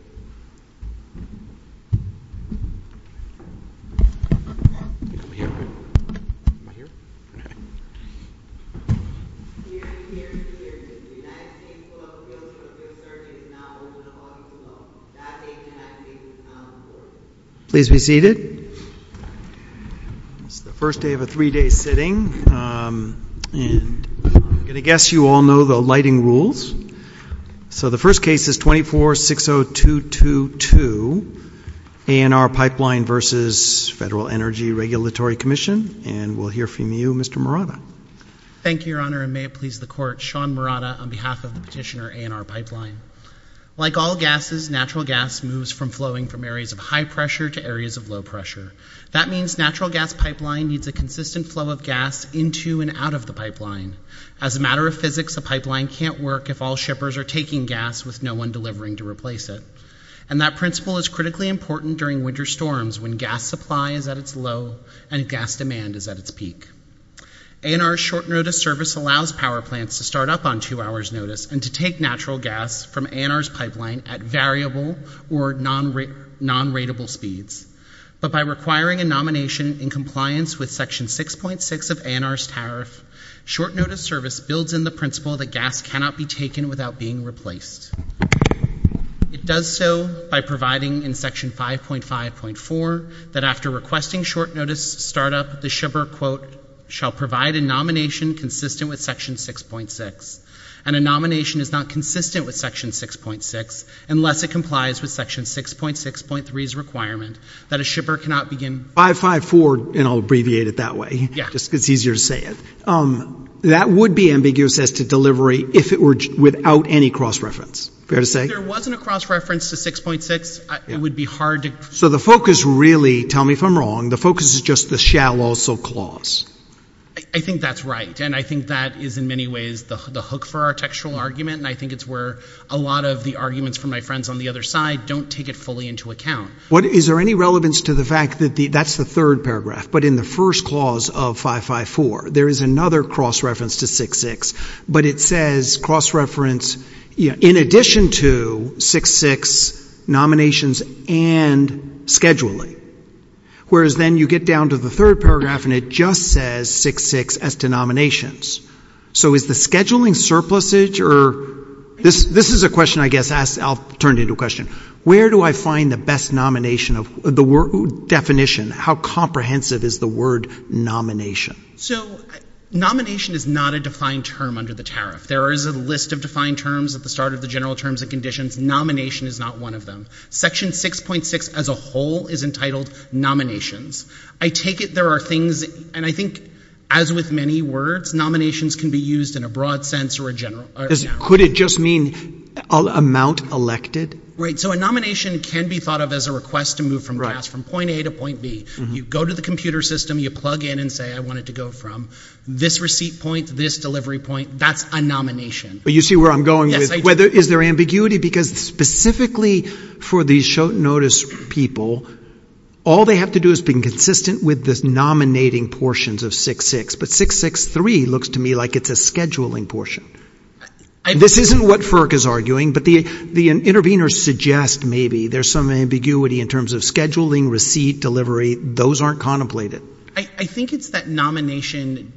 This is the first day of a three-day sitting, and I'm going to guess you all know the lighting rules. So, the first case is 24-60222, ANR Pipeline v. Federal Energy Regulatory Commission, and we'll hear from you, Mr. Murata. Thank you, Your Honor, and may it please the Court, Sean Murata on behalf of the petitioner ANR Pipeline. Like all gases, natural gas moves from flowing from areas of high pressure to areas of low pressure. That means natural gas pipeline needs a consistent flow of gas into and out of the pipeline. As a matter of physics, a pipeline can't work if all shippers are taking gas with no one delivering to replace it, and that principle is critically important during winter storms when gas supply is at its low and gas demand is at its peak. ANR's short-notice service allows power plants to start up on two hours' notice and to take natural gas from ANR's pipeline at variable or non-rateable speeds, but by requiring a nomination in compliance with Section 6.6 of ANR's tariff, short-notice service builds in the principle that gas cannot be taken without being replaced. It does so by providing in Section 5.5.4 that after requesting short-notice startup, the shipper, quote, shall provide a nomination consistent with Section 6.6, and a nomination is not consistent with Section 6.6 unless it complies with Section 6.6.3's requirement that a shipper cannot begin... 5.5.4, and I'll abbreviate it that way, just because it's easier to say it, that would be ambiguous as to delivery if it were without any cross-reference. Fair to say? If there wasn't a cross-reference to 6.6, it would be hard to... So the focus really, tell me if I'm wrong, the focus is just the shall also clause. I think that's right, and I think that is in many ways the hook for our textual argument, and I think it's where a lot of the arguments from my friends on the other side don't take it fully into account. Is there any relevance to the fact that that's the third paragraph, but in the first clause of 5.5.4, there is another cross-reference to 6.6, but it says cross-reference in addition to 6.6, nominations, and scheduling, whereas then you get down to the third paragraph and it just says 6.6 as to nominations. So is the scheduling surplusage, or... This is a question I guess I'll turn into a question. Where do I find the best nomination of the definition? How comprehensive is the word nomination? So nomination is not a defined term under the tariff. There is a list of defined terms at the start of the general terms and conditions. Nomination is not one of them. Section 6.6 as a whole is entitled nominations. I take it there are things, and I think as with many words, nominations can be used in a broad sense or a general... Could it just mean amount elected? So a nomination can be thought of as a request to move from point A to point B. You go to the computer system, you plug in and say, I want it to go from this receipt point to this delivery point. That's a nomination. But you see where I'm going with whether... Is there ambiguity? Because specifically for these short notice people, all they have to do is being consistent with this nominating portions of 6.6, but 6.6.3 looks to me like it's a scheduling portion. This isn't what FERC is arguing, but the interveners suggest maybe there's some ambiguity in terms of scheduling, receipt, delivery. Those aren't contemplated. I think it's that nomination,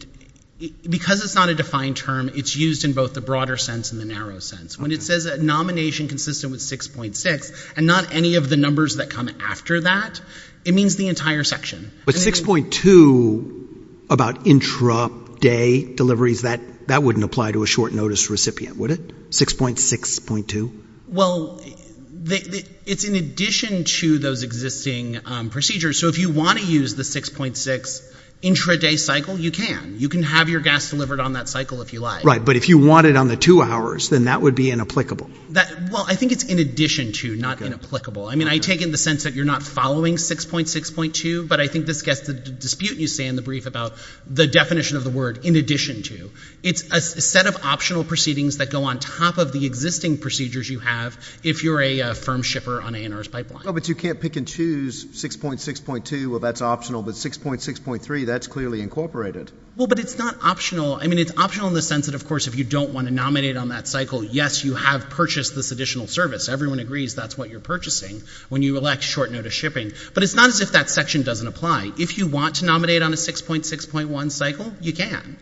because it's not a defined term, it's used in both the broader sense and the narrow sense. When it says a nomination consistent with 6.6 and not any of the numbers that come after that, it means the entire section. But 6.2 about intra-day deliveries, that wouldn't apply to a short notice recipient, would it? 6.6.2? Well, it's in addition to those existing procedures, so if you want to use the 6.6 intra-day cycle, you can. You can have your gas delivered on that cycle if you like. Right, but if you want it on the two hours, then that would be inapplicable. Well, I think it's in addition to, not inapplicable. I mean, I take it in the sense that you're not following 6.6.2, but I think this gets the dispute you say in the brief about the definition of the word, in addition to. It's a set of optional proceedings that go on top of the existing procedures you have if you're a firm shipper on A&R's pipeline. Oh, but you can't pick and choose 6.6.2, well, that's optional, but 6.6.3, that's clearly incorporated. Well, but it's not optional. I mean, it's optional in the sense that, of course, if you don't want to nominate on that cycle, yes, you have purchased this additional service. Everyone agrees that's what you're purchasing when you elect short-notice shipping. But it's not as if that section doesn't apply. If you want to nominate on a 6.6.1 cycle, you can.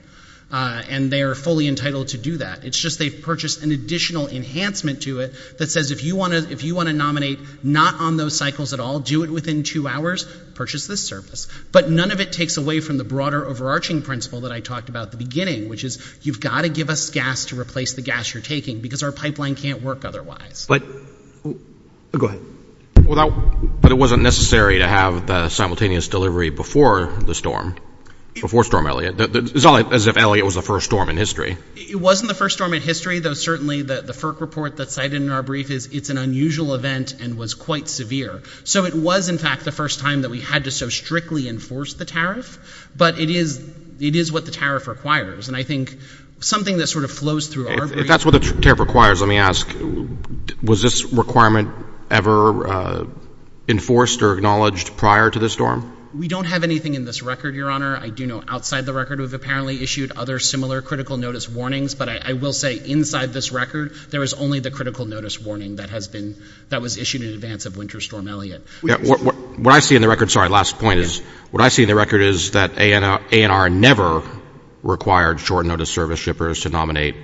And they are fully entitled to do that. It's just they've purchased an additional enhancement to it that says if you want to nominate not on those cycles at all, do it within two hours, purchase this service. But none of it takes away from the broader overarching principle that I talked about at the beginning, which is you've got to give us gas to replace the gas you're taking because our pipeline can't work otherwise. But, go ahead. Well, but it wasn't necessary to have the simultaneous delivery before the storm, before Storm Elliot. It's not as if Elliot was the first storm in history. It wasn't the first storm in history, though certainly the FERC report that's cited in our brief is it's an unusual event and was quite severe. So it was, in fact, the first time that we had to so strictly enforce the tariff. But it is what the tariff requires. And I think something that sort of flows through our brief— If that's what the tariff requires, let me ask, was this requirement ever enforced or acknowledged prior to the storm? We don't have anything in this record, Your Honor. I do know outside the record we've apparently issued other similar critical notice warnings. But I will say inside this record, there is only the critical notice warning that has been—that was issued in advance of Winter Storm Elliot. What I see in the record—sorry, last point—is what I see in the record is that ANR never required short-notice service shippers to nominate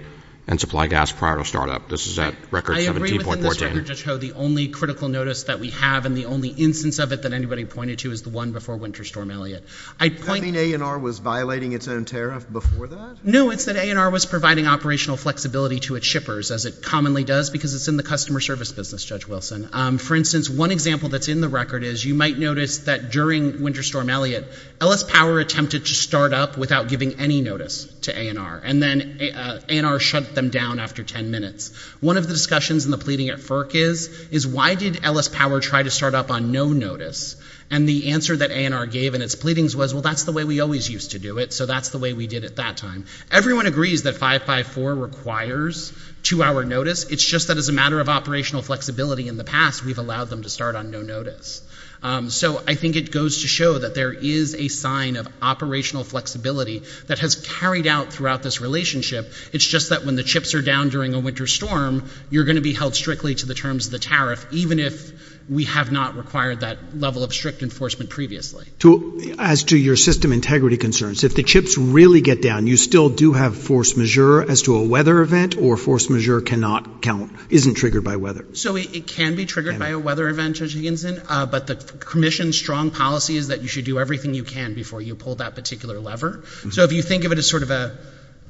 and supply gas prior to startup. This is at record 17.14. I agree within this record, Judge Ho. The only critical notice that we have and the only instance of it that anybody pointed to is the one before Winter Storm Elliot. I'd point— You mean ANR was violating its own tariff before that? No, it's that ANR was providing operational flexibility to its shippers, as it commonly does because it's in the customer service business, Judge Wilson. For instance, one example that's in the record is you might notice that during Winter to ANR. And then ANR shut them down after 10 minutes. One of the discussions in the pleading at FERC is, is why did Ellis Power try to start up on no notice? And the answer that ANR gave in its pleadings was, well, that's the way we always used to do it, so that's the way we did it that time. Everyone agrees that 554 requires two-hour notice. It's just that as a matter of operational flexibility in the past, we've allowed them to start on no notice. So I think it goes to show that there is a sign of operational flexibility that has carried out throughout this relationship. It's just that when the chips are down during a winter storm, you're going to be held strictly to the terms of the tariff, even if we have not required that level of strict enforcement previously. As to your system integrity concerns, if the chips really get down, you still do have force majeure as to a weather event, or force majeure cannot count, isn't triggered by weather? So it can be triggered by a weather event, Judge Higginson, but the commission's strong policy is that you should do everything you can before you pull that particular lever. So if you think of it as sort of a,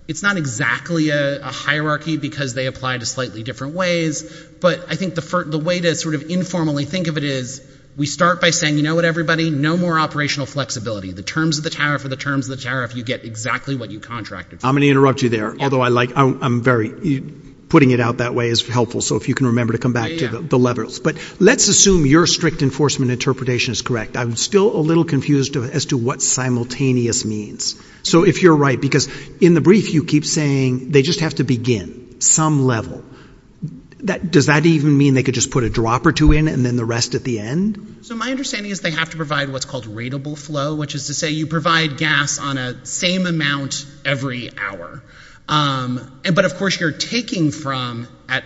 it's not exactly a hierarchy because they apply to slightly different ways, but I think the way to sort of informally think of it is, we start by saying, you know what, everybody, no more operational flexibility. The terms of the tariff are the terms of the tariff, you get exactly what you contracted for. I'm going to interrupt you there, although I like, I'm very, putting it out that way is helpful. So if you can remember to come back to the levers. But let's assume your strict enforcement interpretation is correct. I'm still a little confused as to what simultaneous means. So if you're right, because in the brief you keep saying they just have to begin some level. Does that even mean they could just put a drop or two in and then the rest at the end? So my understanding is they have to provide what's called rateable flow, which is to say you provide gas on a same amount every hour. But of course you're taking from at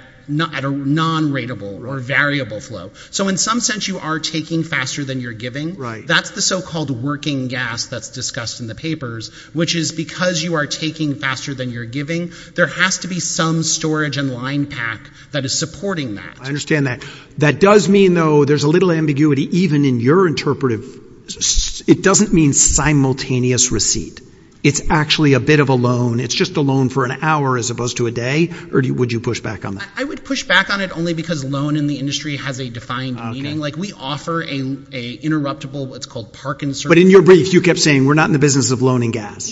a non-rateable or variable flow. So in some sense you are taking faster than you're giving. That's the so-called working gas that's discussed in the papers, which is because you are taking faster than you're giving, there has to be some storage and line pack that is supporting that. I understand that. That does mean, though, there's a little ambiguity even in your interpretive, it doesn't mean simultaneous receipt. It's actually a bit of a loan. It's just a loan for an hour as opposed to a day, or would you push back on that? I would push back on it only because loan in the industry has a defined meaning. We offer an interruptible, what's called park and service. But in your brief you kept saying we're not in the business of loaning gas,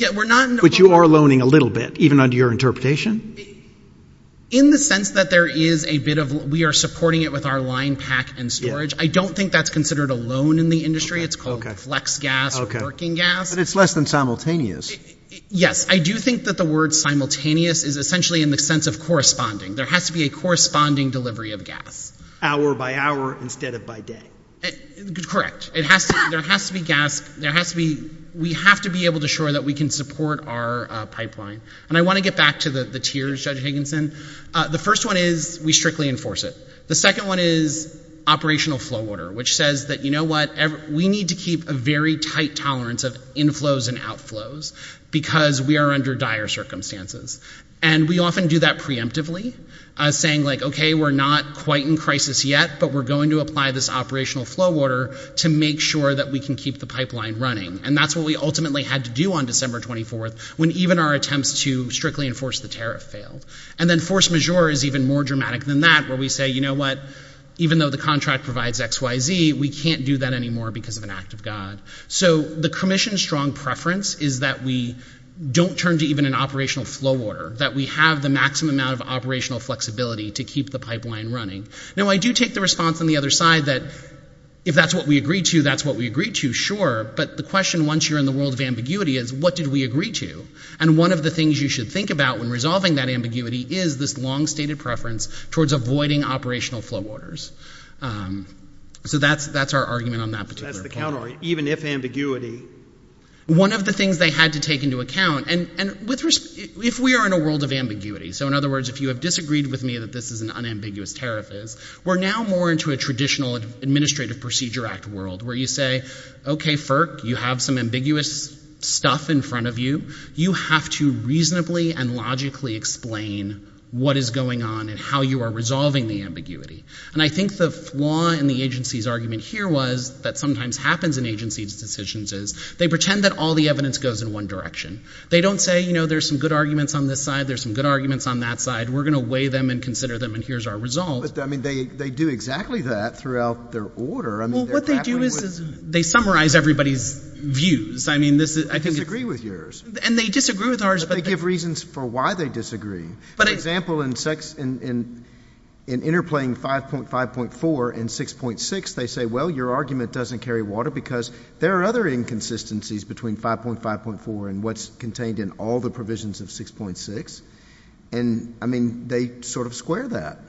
which you are loaning a little bit, even under your interpretation. In the sense that there is a bit of, we are supporting it with our line pack and storage, I don't think that's considered a loan in the industry. It's called flex gas or working gas. But it's less than simultaneous. Yes. I do think that the word simultaneous is essentially in the sense of corresponding. There has to be a corresponding delivery of gas. Hour by hour instead of by day. Correct. There has to be gas, there has to be, we have to be able to show that we can support our pipeline. And I want to get back to the tiers, Judge Higginson. The first one is we strictly enforce it. The second one is operational flow order, which says that, you know what, we need to keep a very tight tolerance of inflows and outflows, because we are under dire circumstances. And we often do that preemptively, saying like, okay, we're not quite in crisis yet, but we're going to apply this operational flow order to make sure that we can keep the pipeline running. And that's what we ultimately had to do on December 24th, when even our attempts to strictly enforce the tariff failed. And then force majeure is even more dramatic than that, where we say, you know what, even though the contract provides XYZ, we can't do that anymore because of an act of God. So the commission's strong preference is that we don't turn to even an operational flow order, that we have the maximum amount of operational flexibility to keep the pipeline running. Now, I do take the response on the other side that if that's what we agreed to, that's what we agreed to, sure. But the question, once you're in the world of ambiguity, is what did we agree to? And one of the things you should think about when resolving that ambiguity is this long stated preference towards avoiding operational flow orders. So that's our argument on that particular point. That's the counter. Even if ambiguity. One of the things they had to take into account, and if we are in a world of ambiguity, so in other words, if you have disagreed with me that this is an unambiguous tariff, we're now more into a traditional Administrative Procedure Act world, where you say, okay FERC, you have some ambiguous stuff in front of you, you have to reasonably and logically explain what is going on and how you are resolving the ambiguity. And I think the flaw in the agency's argument here was, that sometimes happens in agency's decisions is, they pretend that all the evidence goes in one direction. They don't say, you know, there's some good arguments on this side, there's some good arguments on that side, we're going to weigh them and consider them and here's our result. But, I mean, they do exactly that throughout their order. I mean, they're grappling with... Well, what they do is they summarize everybody's views. I mean, this is... I disagree with yours. And they disagree with ours, but... But there are reasons for why they disagree. But... For example, in sex, in interplaying 5.5.4 and 6.6, they say, well, your argument doesn't carry water because there are other inconsistencies between 5.5.4 and what's contained in all the provisions of 6.6, and, I mean, they sort of square that.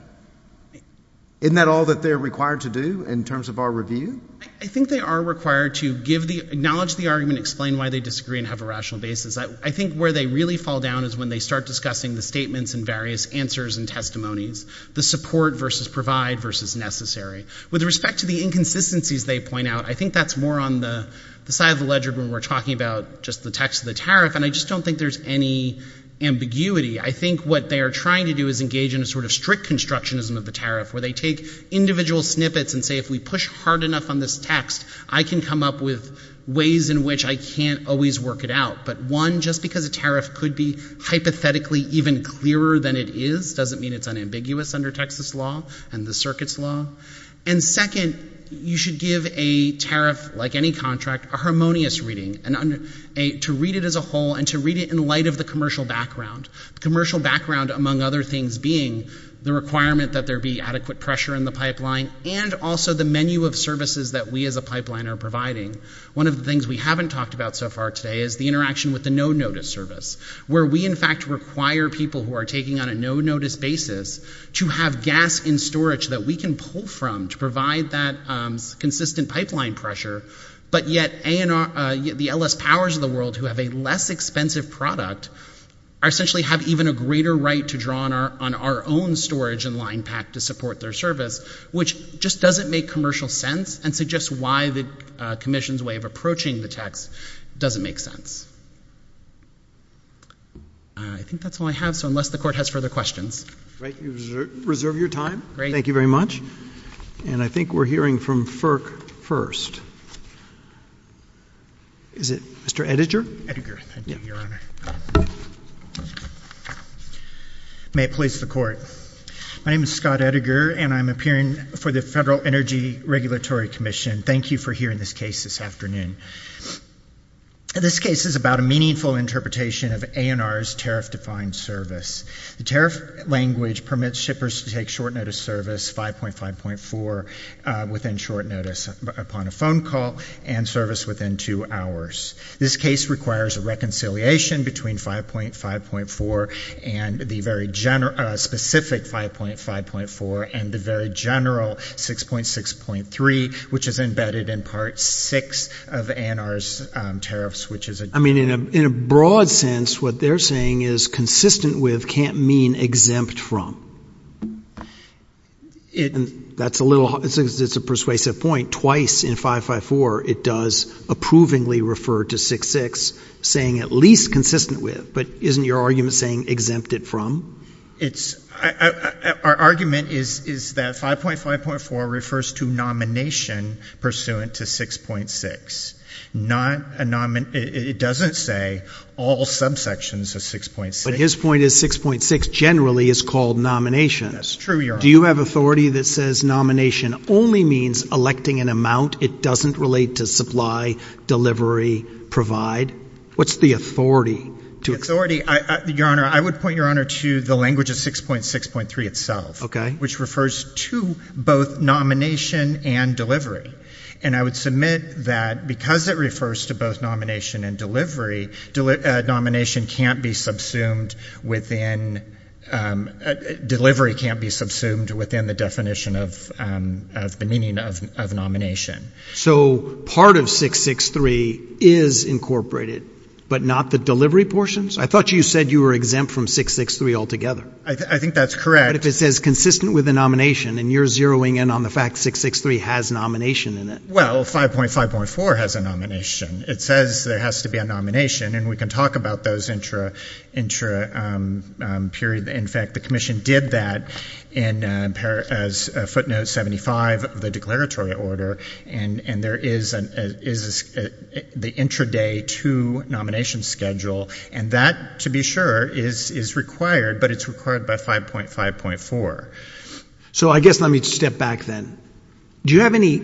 Isn't that all that they're required to do in terms of our review? I think they are required to give the... Acknowledge the argument, explain why they disagree and have a rational basis. I think where they really fall down is when they start discussing the statements and various answers and testimonies. The support versus provide versus necessary. With respect to the inconsistencies they point out, I think that's more on the side of the ledger when we're talking about just the text of the tariff and I just don't think there's any ambiguity. I think what they are trying to do is engage in a sort of strict constructionism of the tariff where they take individual snippets and say, if we push hard enough on this text, I can come up with ways in which I can't always work it out. But, one, just because a tariff could be hypothetically even clearer than it is doesn't mean it's unambiguous under Texas law and the circuit's law. And second, you should give a tariff, like any contract, a harmonious reading. To read it as a whole and to read it in light of the commercial background. Commercial background, among other things, being the requirement that there be adequate pressure in the pipeline and also the menu of services that we as a pipeline are providing. One of the things we haven't talked about so far today is the interaction with the no-notice service, where we in fact require people who are taking on a no-notice basis to have gas in storage that we can pull from to provide that consistent pipeline pressure. But yet the LS powers of the world who have a less expensive product essentially have even a greater right to draw on our own storage and line pack to support their service, which just doesn't make commercial sense and suggests why the Commission's way of approaching the tax doesn't make sense. I think that's all I have, so unless the Court has further questions. Great. You reserve your time. Great. Thank you very much. And I think we're hearing from FERC first. Is it Mr. Ettinger? Ettinger. Thank you, Your Honor. May it please the Court. My name is Scott Ettinger, and I'm appearing for the Federal Energy Regulatory Commission. Thank you for hearing this case this afternoon. This case is about a meaningful interpretation of A&R's tariff-defined service. The tariff language permits shippers to take short-notice service 5.5.4 within short notice upon a phone call and service within two hours. This case requires a reconciliation between 5.5.4 and the very specific 5.5.4 and the very general 6.6.3, which is embedded in Part 6 of A&R's tariffs, which is a— I mean, in a broad sense, what they're saying is consistent with can't mean exempt from. That's a little—it's a persuasive point. Twice in 5.5.4, it does approvingly refer to 6.6, saying at least consistent with. But isn't your argument saying exempted from? Our argument is that 5.5.4 refers to nomination pursuant to 6.6. It doesn't say all subsections of 6.6. But his point is 6.6 generally is called nomination. That's true, Your Honor. Do you have authority that says nomination only means electing an amount? It doesn't relate to supply, delivery, provide? What's the authority? The authority—Your Honor, I would point Your Honor to the language of 6.6.3 itself, which refers to both nomination and delivery. And I would submit that because it refers to both nomination and delivery, nomination can't be subsumed within—delivery can't be subsumed within the definition of the meaning of nomination. So part of 6.6.3 is incorporated, but not the delivery portions? I thought you said you were exempt from 6.6.3 altogether. I think that's correct. But if it says consistent with the nomination, and you're zeroing in on the fact 6.6.3 has nomination in it— Well, 5.5.4 has a nomination. It says there has to be a nomination, and we can talk about those intra—in fact, the commission did that in footnote 75 of the declaratory order, and there is the intraday to nomination schedule, and that, to be sure, is required, but it's required by 5.5.4. So I guess let me step back then. Do you have any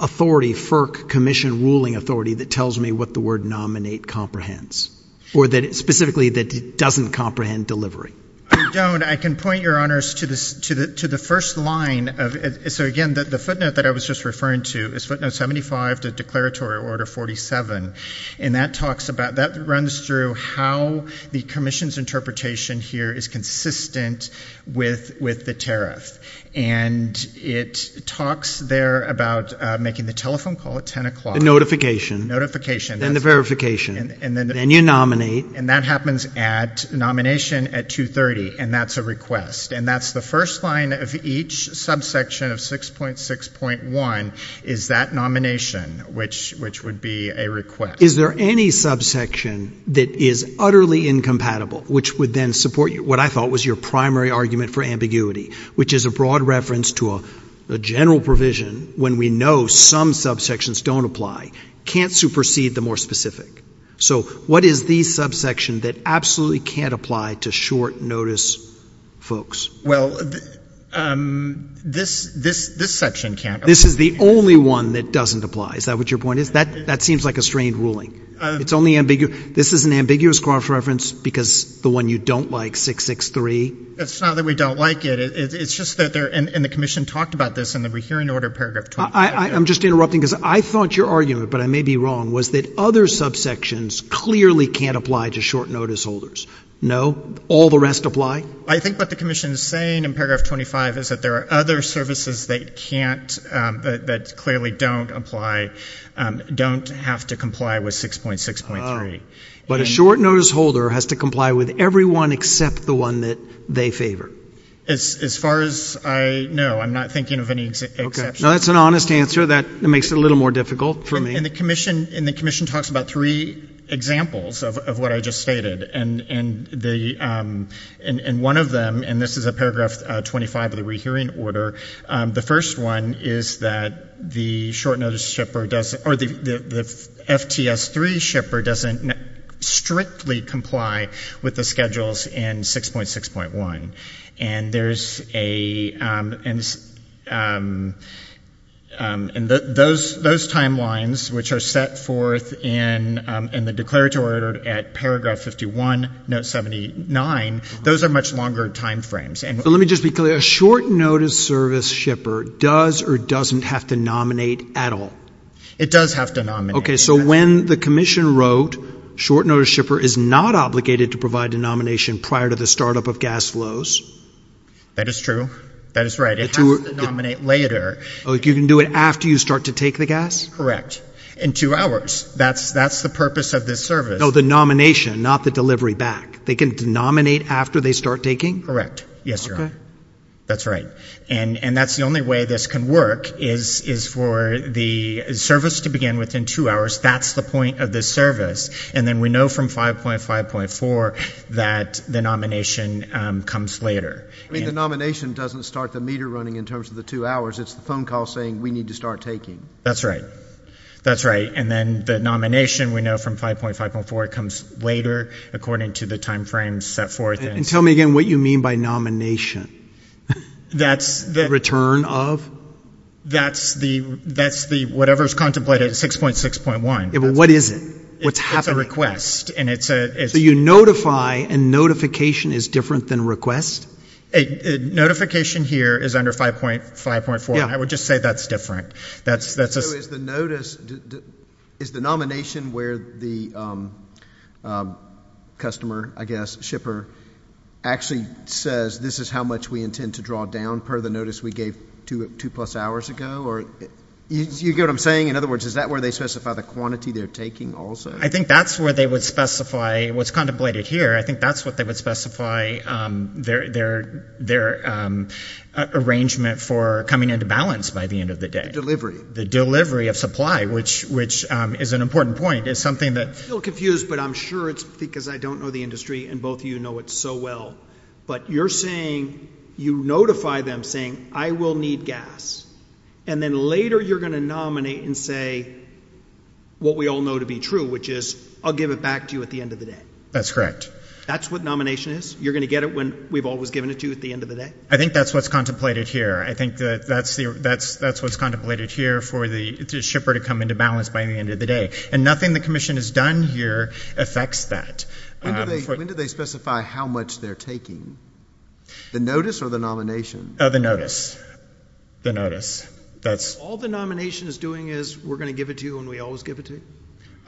authority, FERC commission ruling authority, that tells me what the word nominate comprehends? Or specifically that doesn't comprehend delivery? I don't. I can point, Your Honors, to the first line of—so again, the footnote that I was just referring to is footnote 75, the declaratory order 47, and that talks about—that runs through how the commission's interpretation here is consistent with the tariff, and it talks there about making the telephone call at 10 o'clock— The notification. Notification. Then the verification. And then the— Then you nominate. And that happens at nomination at 2.30, and that's a request, and that's the first line of each subsection of 6.6.1 is that nomination, which would be a request. Is there any subsection that is utterly incompatible, which would then support what I thought was your primary argument for ambiguity, which is a broad reference to a general provision when we know some subsections don't apply, can't supersede the more specific? So what is the subsection that absolutely can't apply to short notice folks? Well, this section can't apply. This is the only one that doesn't apply. Is that what your point is? That seems like a strained ruling. It's only—this is an ambiguous cross-reference because the one you don't like, 6.6.3? It's not that we don't like it. It's just that there—and the commission talked about this, and we hear in order paragraph 25. I'm just interrupting because I thought your argument, but I may be wrong, was that other subsections clearly can't apply to short notice holders. No? All the rest apply? I think what the commission is saying in paragraph 25 is that there are other services that can't—that clearly don't apply, don't have to comply with 6.6.3. But a short notice holder has to comply with every one except the one that they favor. As far as I know, I'm not thinking of any exceptions. Okay. Now, that's an honest answer. That makes it a little more difficult for me. And the commission talks about three examples of what I just stated, and one of them—and this is a paragraph 25 that we hear in order—the first one is that the short notice shipper doesn't—or the FTS-3 shipper doesn't strictly comply with the schedules in 6.6.1. And there's a—and those timelines which are set forth in the declaratory order at paragraph 51, note 79. Those are much longer timeframes. And— But let me just be clear. A short notice service shipper does or doesn't have to nominate at all? It does have to nominate. Okay. So when the commission wrote, short notice shipper is not obligated to provide a nomination prior to the startup of gas flows— That is true. That is right. It has to nominate later. Oh, you can do it after you start to take the gas? Correct. In two hours. That's the purpose of this service. No, the nomination, not the delivery back. They can nominate after they start taking? Correct. Yes, Your Honor. Okay. That's right. And that's the only way this can work is for the service to begin within two hours. That's the point of this service. And then we know from 5.5.4 that the nomination comes later. I mean, the nomination doesn't start the meter running in terms of the two hours. It's the phone call saying we need to start taking. That's right. That's right. And then the nomination, we know from 5.5.4, comes later according to the time frame set forth in— And tell me again what you mean by nomination? That's the— Return of? That's the whatever's contemplated 6.6.1. What is it? What's happening? It's a request. And it's a— So you notify and notification is different than request? Notification here is under 5.5.4. I would just say that's different. So is the notice—is the nomination where the customer, I guess, shipper, actually says this is how much we intend to draw down per the notice we gave two plus hours ago? Or you get what I'm saying? In other words, is that where they specify the quantity they're taking also? I think that's where they would specify what's contemplated here. I think that's what they would specify their arrangement for coming into balance by the end of the day. The delivery of supply, which is an important point. It's something that— I feel confused, but I'm sure it's because I don't know the industry and both of you know it so well. But you're saying you notify them saying I will need gas. And then later you're going to nominate and say what we all know to be true, which is I'll give it back to you at the end of the day. That's correct. That's what nomination is? You're going to get it when we've always given it to you at the end of the day? I think that's what's contemplated here. I think that's what's contemplated here for the shipper to come into balance by the end of the day. And nothing the commission has done here affects that. When do they specify how much they're taking? The notice or the nomination? The notice. The notice. All the nomination is doing is we're going to give it to you and we always give it to you?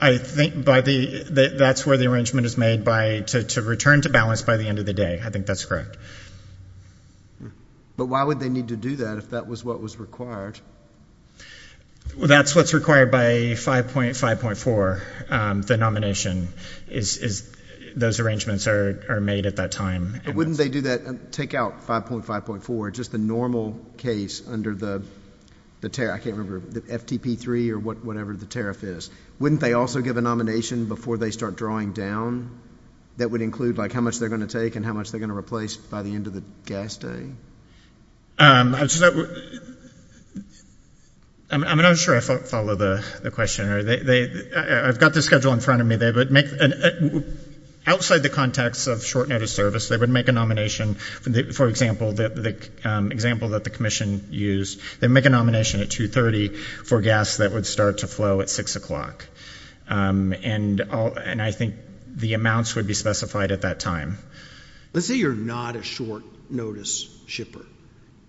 I think that's where the arrangement is made to return to balance by the end of the day. I think that's correct. But why would they need to do that if that was what was required? That's what's required by 5.5.4, the nomination. Those arrangements are made at that time. But wouldn't they do that, take out 5.5.4, just the normal case under the, I can't remember, the FTP3 or whatever the tariff is, wouldn't they also give a nomination before they start drawing down that would include like how much they're going to take and how much they're going to replace by the end of the gas day? I'm not sure I follow the question. I've got the schedule in front of me. Outside the context of short notice service, they would make a nomination. For example, the example that the commission used, they'd make a nomination at 2.30 for gas that would start to flow at 6 o'clock. And I think the amounts would be specified at that time. Let's say you're not a short notice shipper,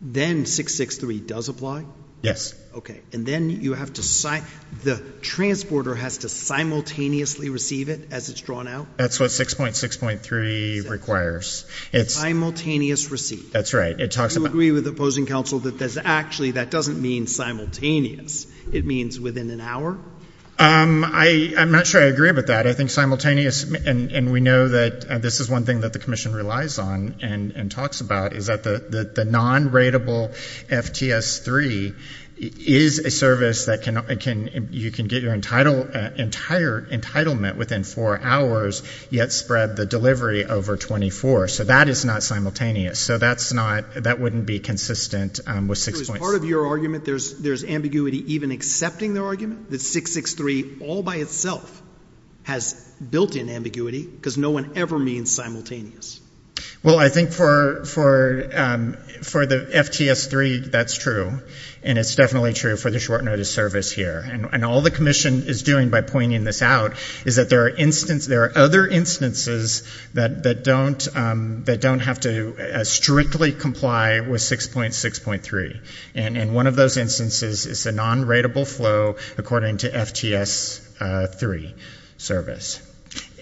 then 6.6.3 does apply? Yes. Okay. And then you have to sign, the transporter has to simultaneously receive it as it's drawn out? That's what 6.6.3 requires. Simultaneous receipt. That's right. It talks about... Do you agree with opposing counsel that actually that doesn't mean simultaneous, it means within an hour? I'm not sure I agree with that. But I think simultaneous, and we know that this is one thing that the commission relies on and talks about, is that the non-rateable FTS3 is a service that you can get your entire entitlement within four hours, yet spread the delivery over 24. So that is not simultaneous. So that wouldn't be consistent with 6.6. Part of your argument, there's ambiguity even accepting the argument that 6.6.3 all by itself has built in ambiguity, because no one ever means simultaneous. Well I think for the FTS3, that's true, and it's definitely true for the short notice service here. And all the commission is doing by pointing this out is that there are other instances that don't have to strictly comply with 6.6.3, and one of those instances is a non-rateable flow according to FTS3 service.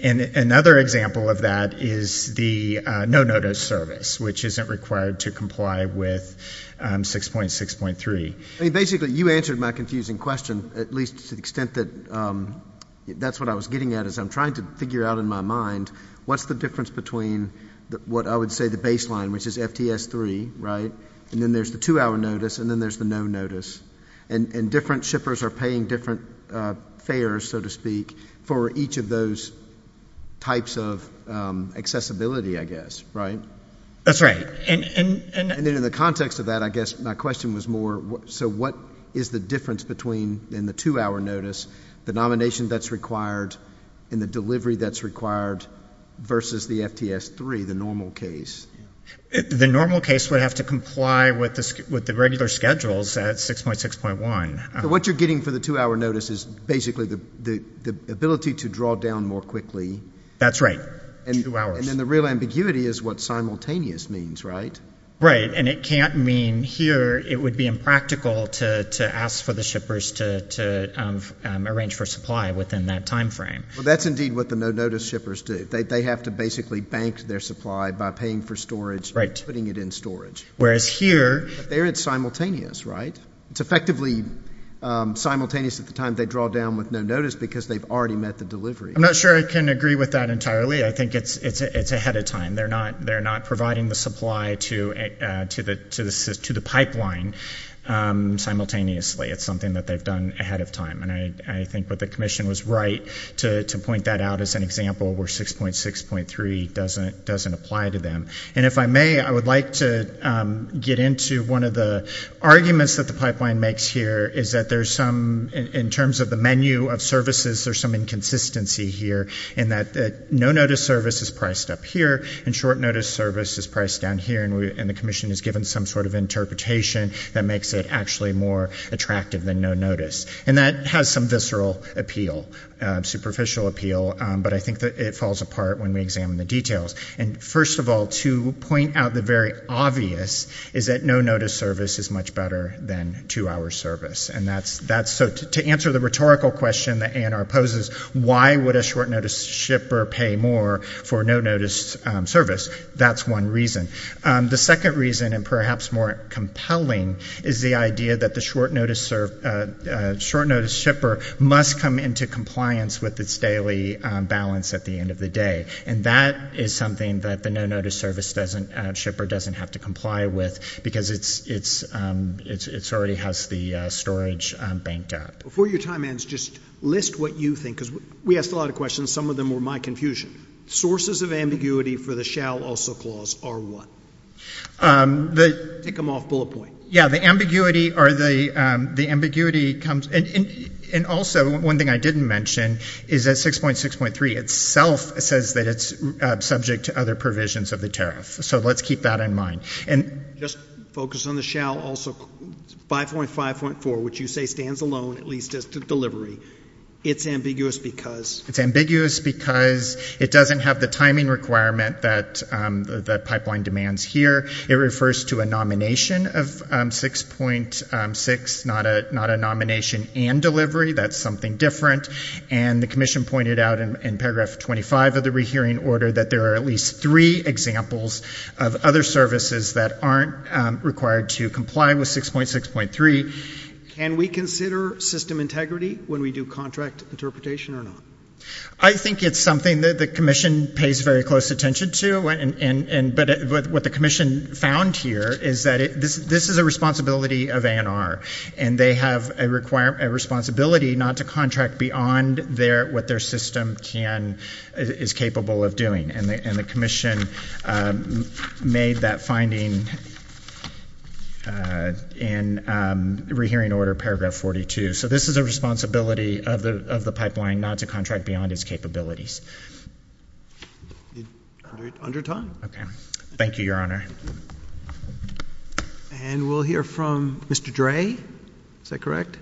Another example of that is the no-notice service, which isn't required to comply with 6.6.3. I mean basically you answered my confusing question, at least to the extent that that's what I was getting at, is I'm trying to figure out in my mind what's the difference between what I would say the baseline, which is FTS3, right, and then there's the two-hour notice, and then there's the no notice. And different shippers are paying different fares, so to speak, for each of those types of accessibility, I guess, right? That's right. And in the context of that, I guess my question was more, so what is the difference between in the two-hour notice, the nomination that's required and the delivery that's required versus the FTS3, the normal case? The normal case would have to comply with the regular schedules at 6.6.1. What you're getting for the two-hour notice is basically the ability to draw down more quickly. That's right. Two hours. And then the real ambiguity is what simultaneous means, right? Right, and it can't mean here it would be impractical to ask for the shippers to arrange for supply within that time frame. Well, that's indeed what the no-notice shippers do. They have to basically bank their supply by paying for storage and putting it in storage. Whereas here, it's simultaneous, right? It's effectively simultaneous at the time they draw down with no notice because they've already met the delivery. I'm not sure I can agree with that entirely. I think it's ahead of time. They're not providing the supply to the pipeline simultaneously. It's something that they've done ahead of time, and I think what the commission was right to point that out as an example where 6.6.3 doesn't apply to them. And if I may, I would like to get into one of the arguments that the pipeline makes here is that there's some, in terms of the menu of services, there's some inconsistency here in that no-notice service is priced up here, and short-notice service is priced down here, and the commission is given some sort of interpretation that makes it actually more attractive than no notice. And that has some visceral appeal, superficial appeal, but I think that it falls apart when we examine the details. And first of all, to point out the very obvious is that no-notice service is much better than two-hour service, and that's so to answer the rhetorical question that ANR poses, why would a short-notice shipper pay more for no-notice service? That's one reason. The second reason, and perhaps more compelling, is the idea that the short-notice shipper must come into compliance with its daily balance at the end of the day. And that is something that the no-notice shipper doesn't have to comply with because it already has the storage banked out. Before your time ends, just list what you think, because we asked a lot of questions. Some of them were my confusion. Sources of ambiguity for the shall also clause are what? Take them off bullet point. Yeah, the ambiguity comes, and also one thing I didn't mention is that 6.6.3 itself says that it's subject to other provisions of the tariff. So let's keep that in mind. And just focus on the shall also, 5.5.4, which you say stands alone, at least as to delivery. It's ambiguous because? It's ambiguous because it doesn't have the timing requirement that pipeline demands here. It refers to a nomination of 6.6, not a nomination and delivery. That's something different. And the commission pointed out in paragraph 25 of the rehearing order that there are at least three examples of other services that aren't required to comply with 6.6.3. Can we consider system integrity when we do contract interpretation or not? I think it's something that the commission pays very close attention to, but what the commission found here is that this is a responsibility of ANR. And they have a responsibility not to contract beyond what their system is capable of doing. And the commission made that finding in rehearing order paragraph 42. So this is a responsibility of the pipeline not to contract beyond its capabilities. Under time. Okay. Thank you, your honor. And we'll hear from Mr. Dre. Is that correct?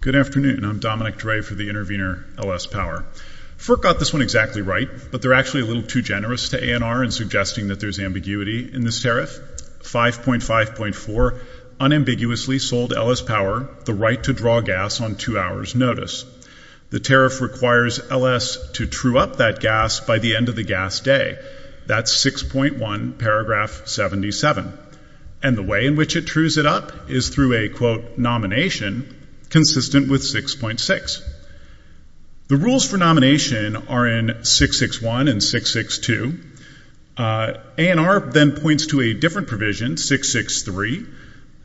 Good afternoon, I'm Dominic Dre for the intervener LS Power. FERC got this one exactly right, but they're actually a little too generous to ANR in suggesting that there's ambiguity in this tariff. 5.5.4 unambiguously sold LS Power the right to draw gas on two hours notice. The tariff requires LS to true up that gas by the end of the gas day. That's 6.1 paragraph 77. And the way in which it trues it up is through a quote nomination consistent with 6.6. The rules for nomination are in 661 and 662. ANR then points to a different provision 663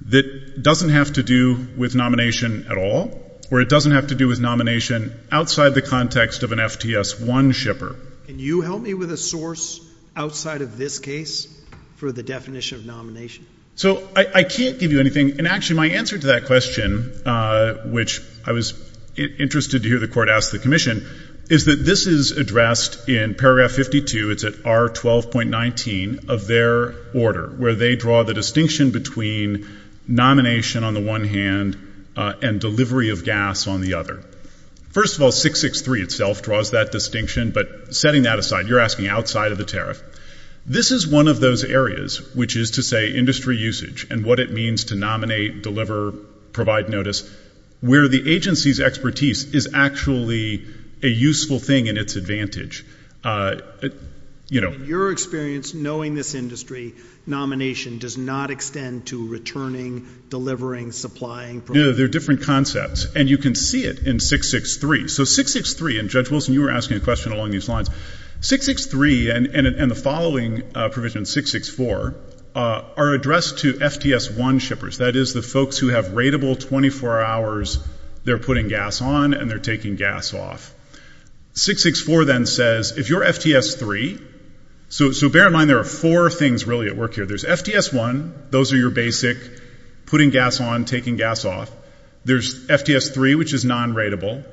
that doesn't have to do with nomination at all. Or it doesn't have to do with nomination outside the context of an FTS1 shipper. Can you help me with a source outside of this case for the definition of nomination? So, I can't give you anything. And actually my answer to that question, which I was interested to hear the court ask the commission, is that this is addressed in paragraph 52, it's at R12.19 of their order. Where they draw the distinction between nomination on the one hand and delivery of gas on the other. First of all, 663 itself draws that distinction, but setting that aside, you're asking outside of the tariff. This is one of those areas, which is to say industry usage and what it means to nominate, deliver, provide notice, where the agency's expertise is actually a useful thing in its advantage. Your experience, knowing this industry, nomination does not extend to returning, delivering, supplying. They're different concepts. And you can see it in 663. So 663, and Judge Wilson, you were asking a question along these lines. 663 and the following provision, 664, are addressed to FTS1 shippers. That is the folks who have rateable 24 hours, they're putting gas on and they're taking gas off. 664 then says, if you're FTS3, so bear in mind there are four things really at work here. There's FTS1, those are your basic putting gas on, taking gas off. There's FTS3, which is non-rateable.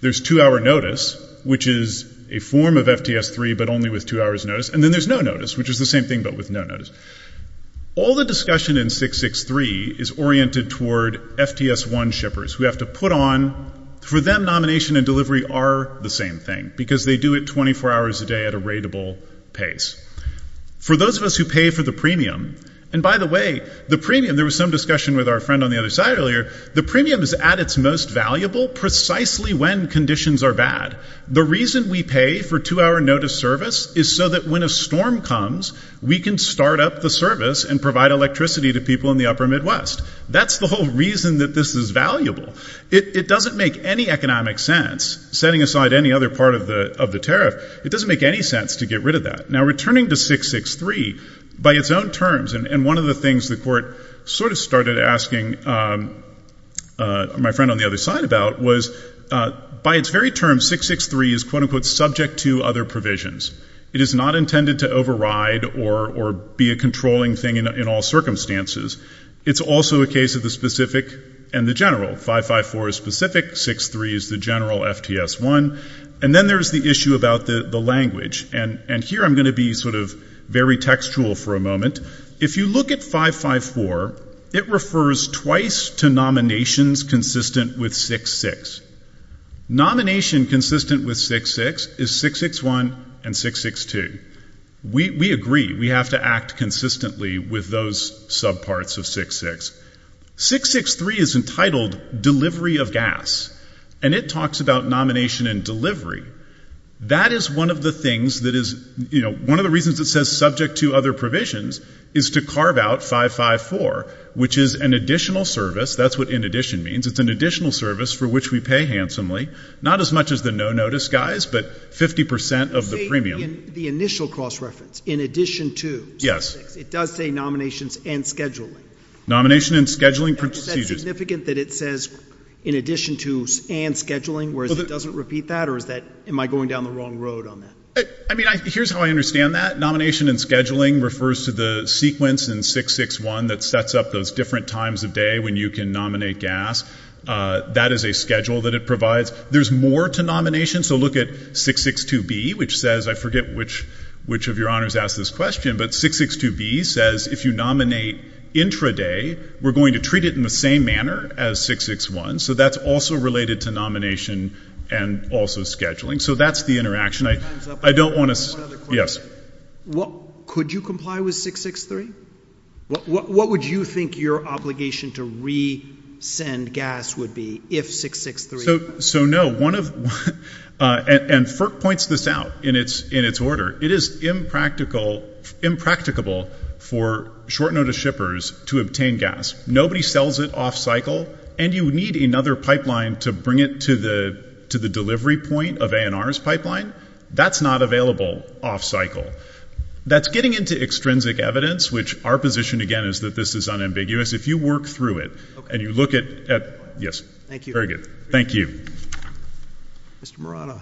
There's two-hour notice, which is a form of FTS3, but only with two hours notice. And then there's no notice, which is the same thing, but with no notice. All the discussion in 663 is oriented toward FTS1 shippers who have to put on, for them, nomination and delivery are the same thing, because they do it 24 hours a day at a rateable pace. For those of us who pay for the premium, and by the way, the premium, there was some discussion with our friend on the other side earlier, the premium is at its most valuable precisely when conditions are bad. The reason we pay for two-hour notice service is so that when a storm comes, we can start up the service and provide electricity to people in the upper Midwest. That's the whole reason that this is valuable. It doesn't make any economic sense, setting aside any other part of the tariff, it doesn't make any sense to get rid of that. Now, returning to 663, by its own terms, and one of the things the court sort of started asking my friend on the other side about, was by its very terms, 663 is quote-unquote subject to other provisions. It is not intended to override or be a controlling thing in all circumstances. It's also a case of the specific and the general. 554 is specific, 63 is the general FTS1, and then there's the issue about the language. And here I'm going to be sort of very textual for a moment. If you look at 554, it refers twice to nominations consistent with 66. Nomination consistent with 66 is 661 and 662. We agree, we have to act consistently with those subparts of 66. 663 is entitled delivery of gas, and it talks about nomination and delivery. That is one of the things that is, you know, one of the reasons it says subject to other provisions is to carve out 554, which is an additional service. That's what in addition means. It's an additional service for which we pay handsomely. Not as much as the no-notice guys, but 50% of the premium. The initial cross-reference, in addition to. Yes. It does say nominations and scheduling. Nomination and scheduling procedures. Is it significant that it says in addition to and scheduling, whereas it doesn't repeat that? Or is that, am I going down the wrong road on that? I mean, here's how I understand that. Nomination and scheduling refers to the sequence in 661 that sets up those different times of day when you can nominate gas. That is a schedule that it provides. There's more to nomination, so look at 662B, which says, I forget which of your honors asked this question, but 662B says if you nominate intraday, we're going to treat it in the same manner as 661. So that's also related to nomination and also scheduling. So that's the interaction. I don't want to. Yes. What, could you comply with 663? What would you think your obligation to resend gas would be if 663? So no, one of, and FERC points this out in its order. It is impractical, impracticable for short notice shippers to obtain gas. Nobody sells it off cycle. And you need another pipeline to bring it to the delivery point of ANR's pipeline. That's not available off cycle. That's getting into extrinsic evidence, which our position again is that this is unambiguous. If you work through it, and you look at, yes. Thank you. Thank you. Mr. Morata.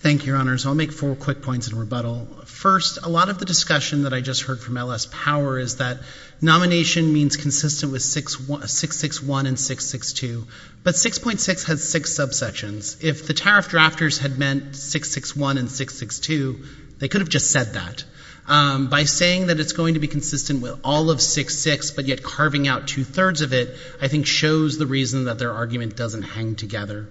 Thank you, your honors. I'll make four quick points in rebuttal. First, a lot of the discussion that I just heard from LS Power is that nomination means consistent with 661 and 662. But 6.6 has six subsections. If the tariff drafters had meant 661 and 662, they could have just said that. By saying that it's going to be consistent with all of 66, but yet carving out two thirds of it, I think shows the reason that their argument doesn't hang together.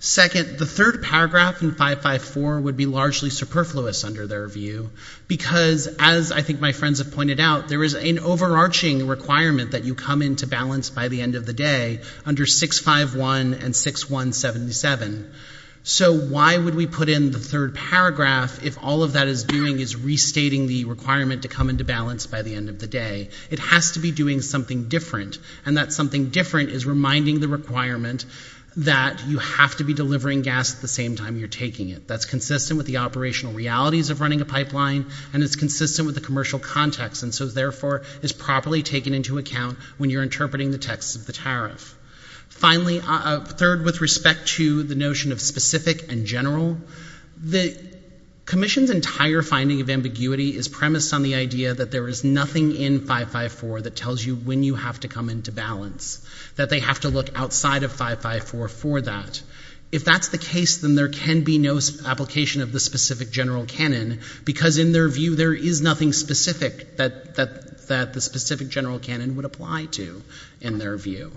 Second, the third paragraph in 554 would be largely superfluous under their view. Because as I think my friends have pointed out, there is an overarching requirement that you come into balance by the end of the day under 651 and 6177. So why would we put in the third paragraph if all of that is doing is restating the requirement to come into balance by the end of the day? It has to be doing something different. And that something different is reminding the requirement that you have to be delivering gas at the same time you're taking it. That's consistent with the operational realities of running a pipeline, and it's consistent with the commercial context. And so therefore, it's properly taken into account when you're interpreting the text of the tariff. Finally, third, with respect to the notion of specific and general. The commission's entire finding of ambiguity is premised on the idea that there is nothing in 554 that tells you when you have to come into balance. That they have to look outside of 554 for that. If that's the case, then there can be no application of the specific general canon. Because in their view, there is nothing specific that the specific general canon would apply to, in their view.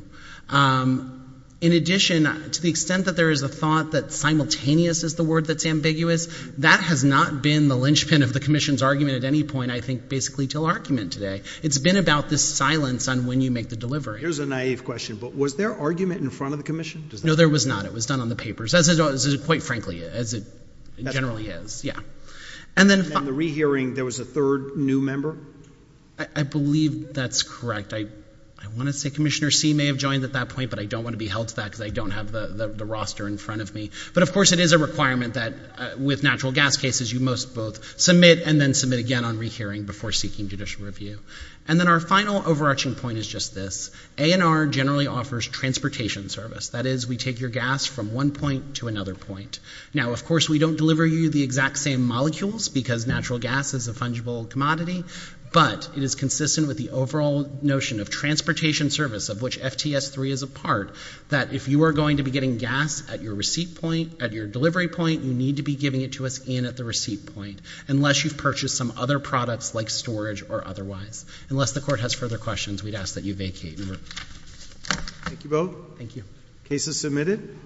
In addition, to the extent that there is a thought that simultaneous is the word that's ambiguous, that has not been the linchpin of the commission's argument at any point, I think, basically till argument today. It's been about this silence on when you make the delivery. Here's a naive question, but was there argument in front of the commission? No, there was not. It was done on the papers, as it quite frankly, as it generally is. And then- In the re-hearing, there was a third new member? I believe that's correct. I want to say Commissioner C may have joined at that point, but I don't want to be held to that because I don't have the roster in front of me. But of course, it is a requirement that with natural gas cases, you must both submit and then submit again on re-hearing before seeking judicial review. And then our final overarching point is just this. ANR generally offers transportation service. That is, we take your gas from one point to another point. Now, of course, we don't deliver you the exact same molecules because natural gas is a fungible commodity. But it is consistent with the overall notion of transportation service, of which FTS-3 is a part, that if you are going to be getting gas at your receipt point, at your delivery point, you need to be giving it to us in at the receipt point. Unless you've purchased some other products like storage or otherwise. Unless the court has further questions, we'd ask that you vacate. Thank you both. Thank you. Case is submitted.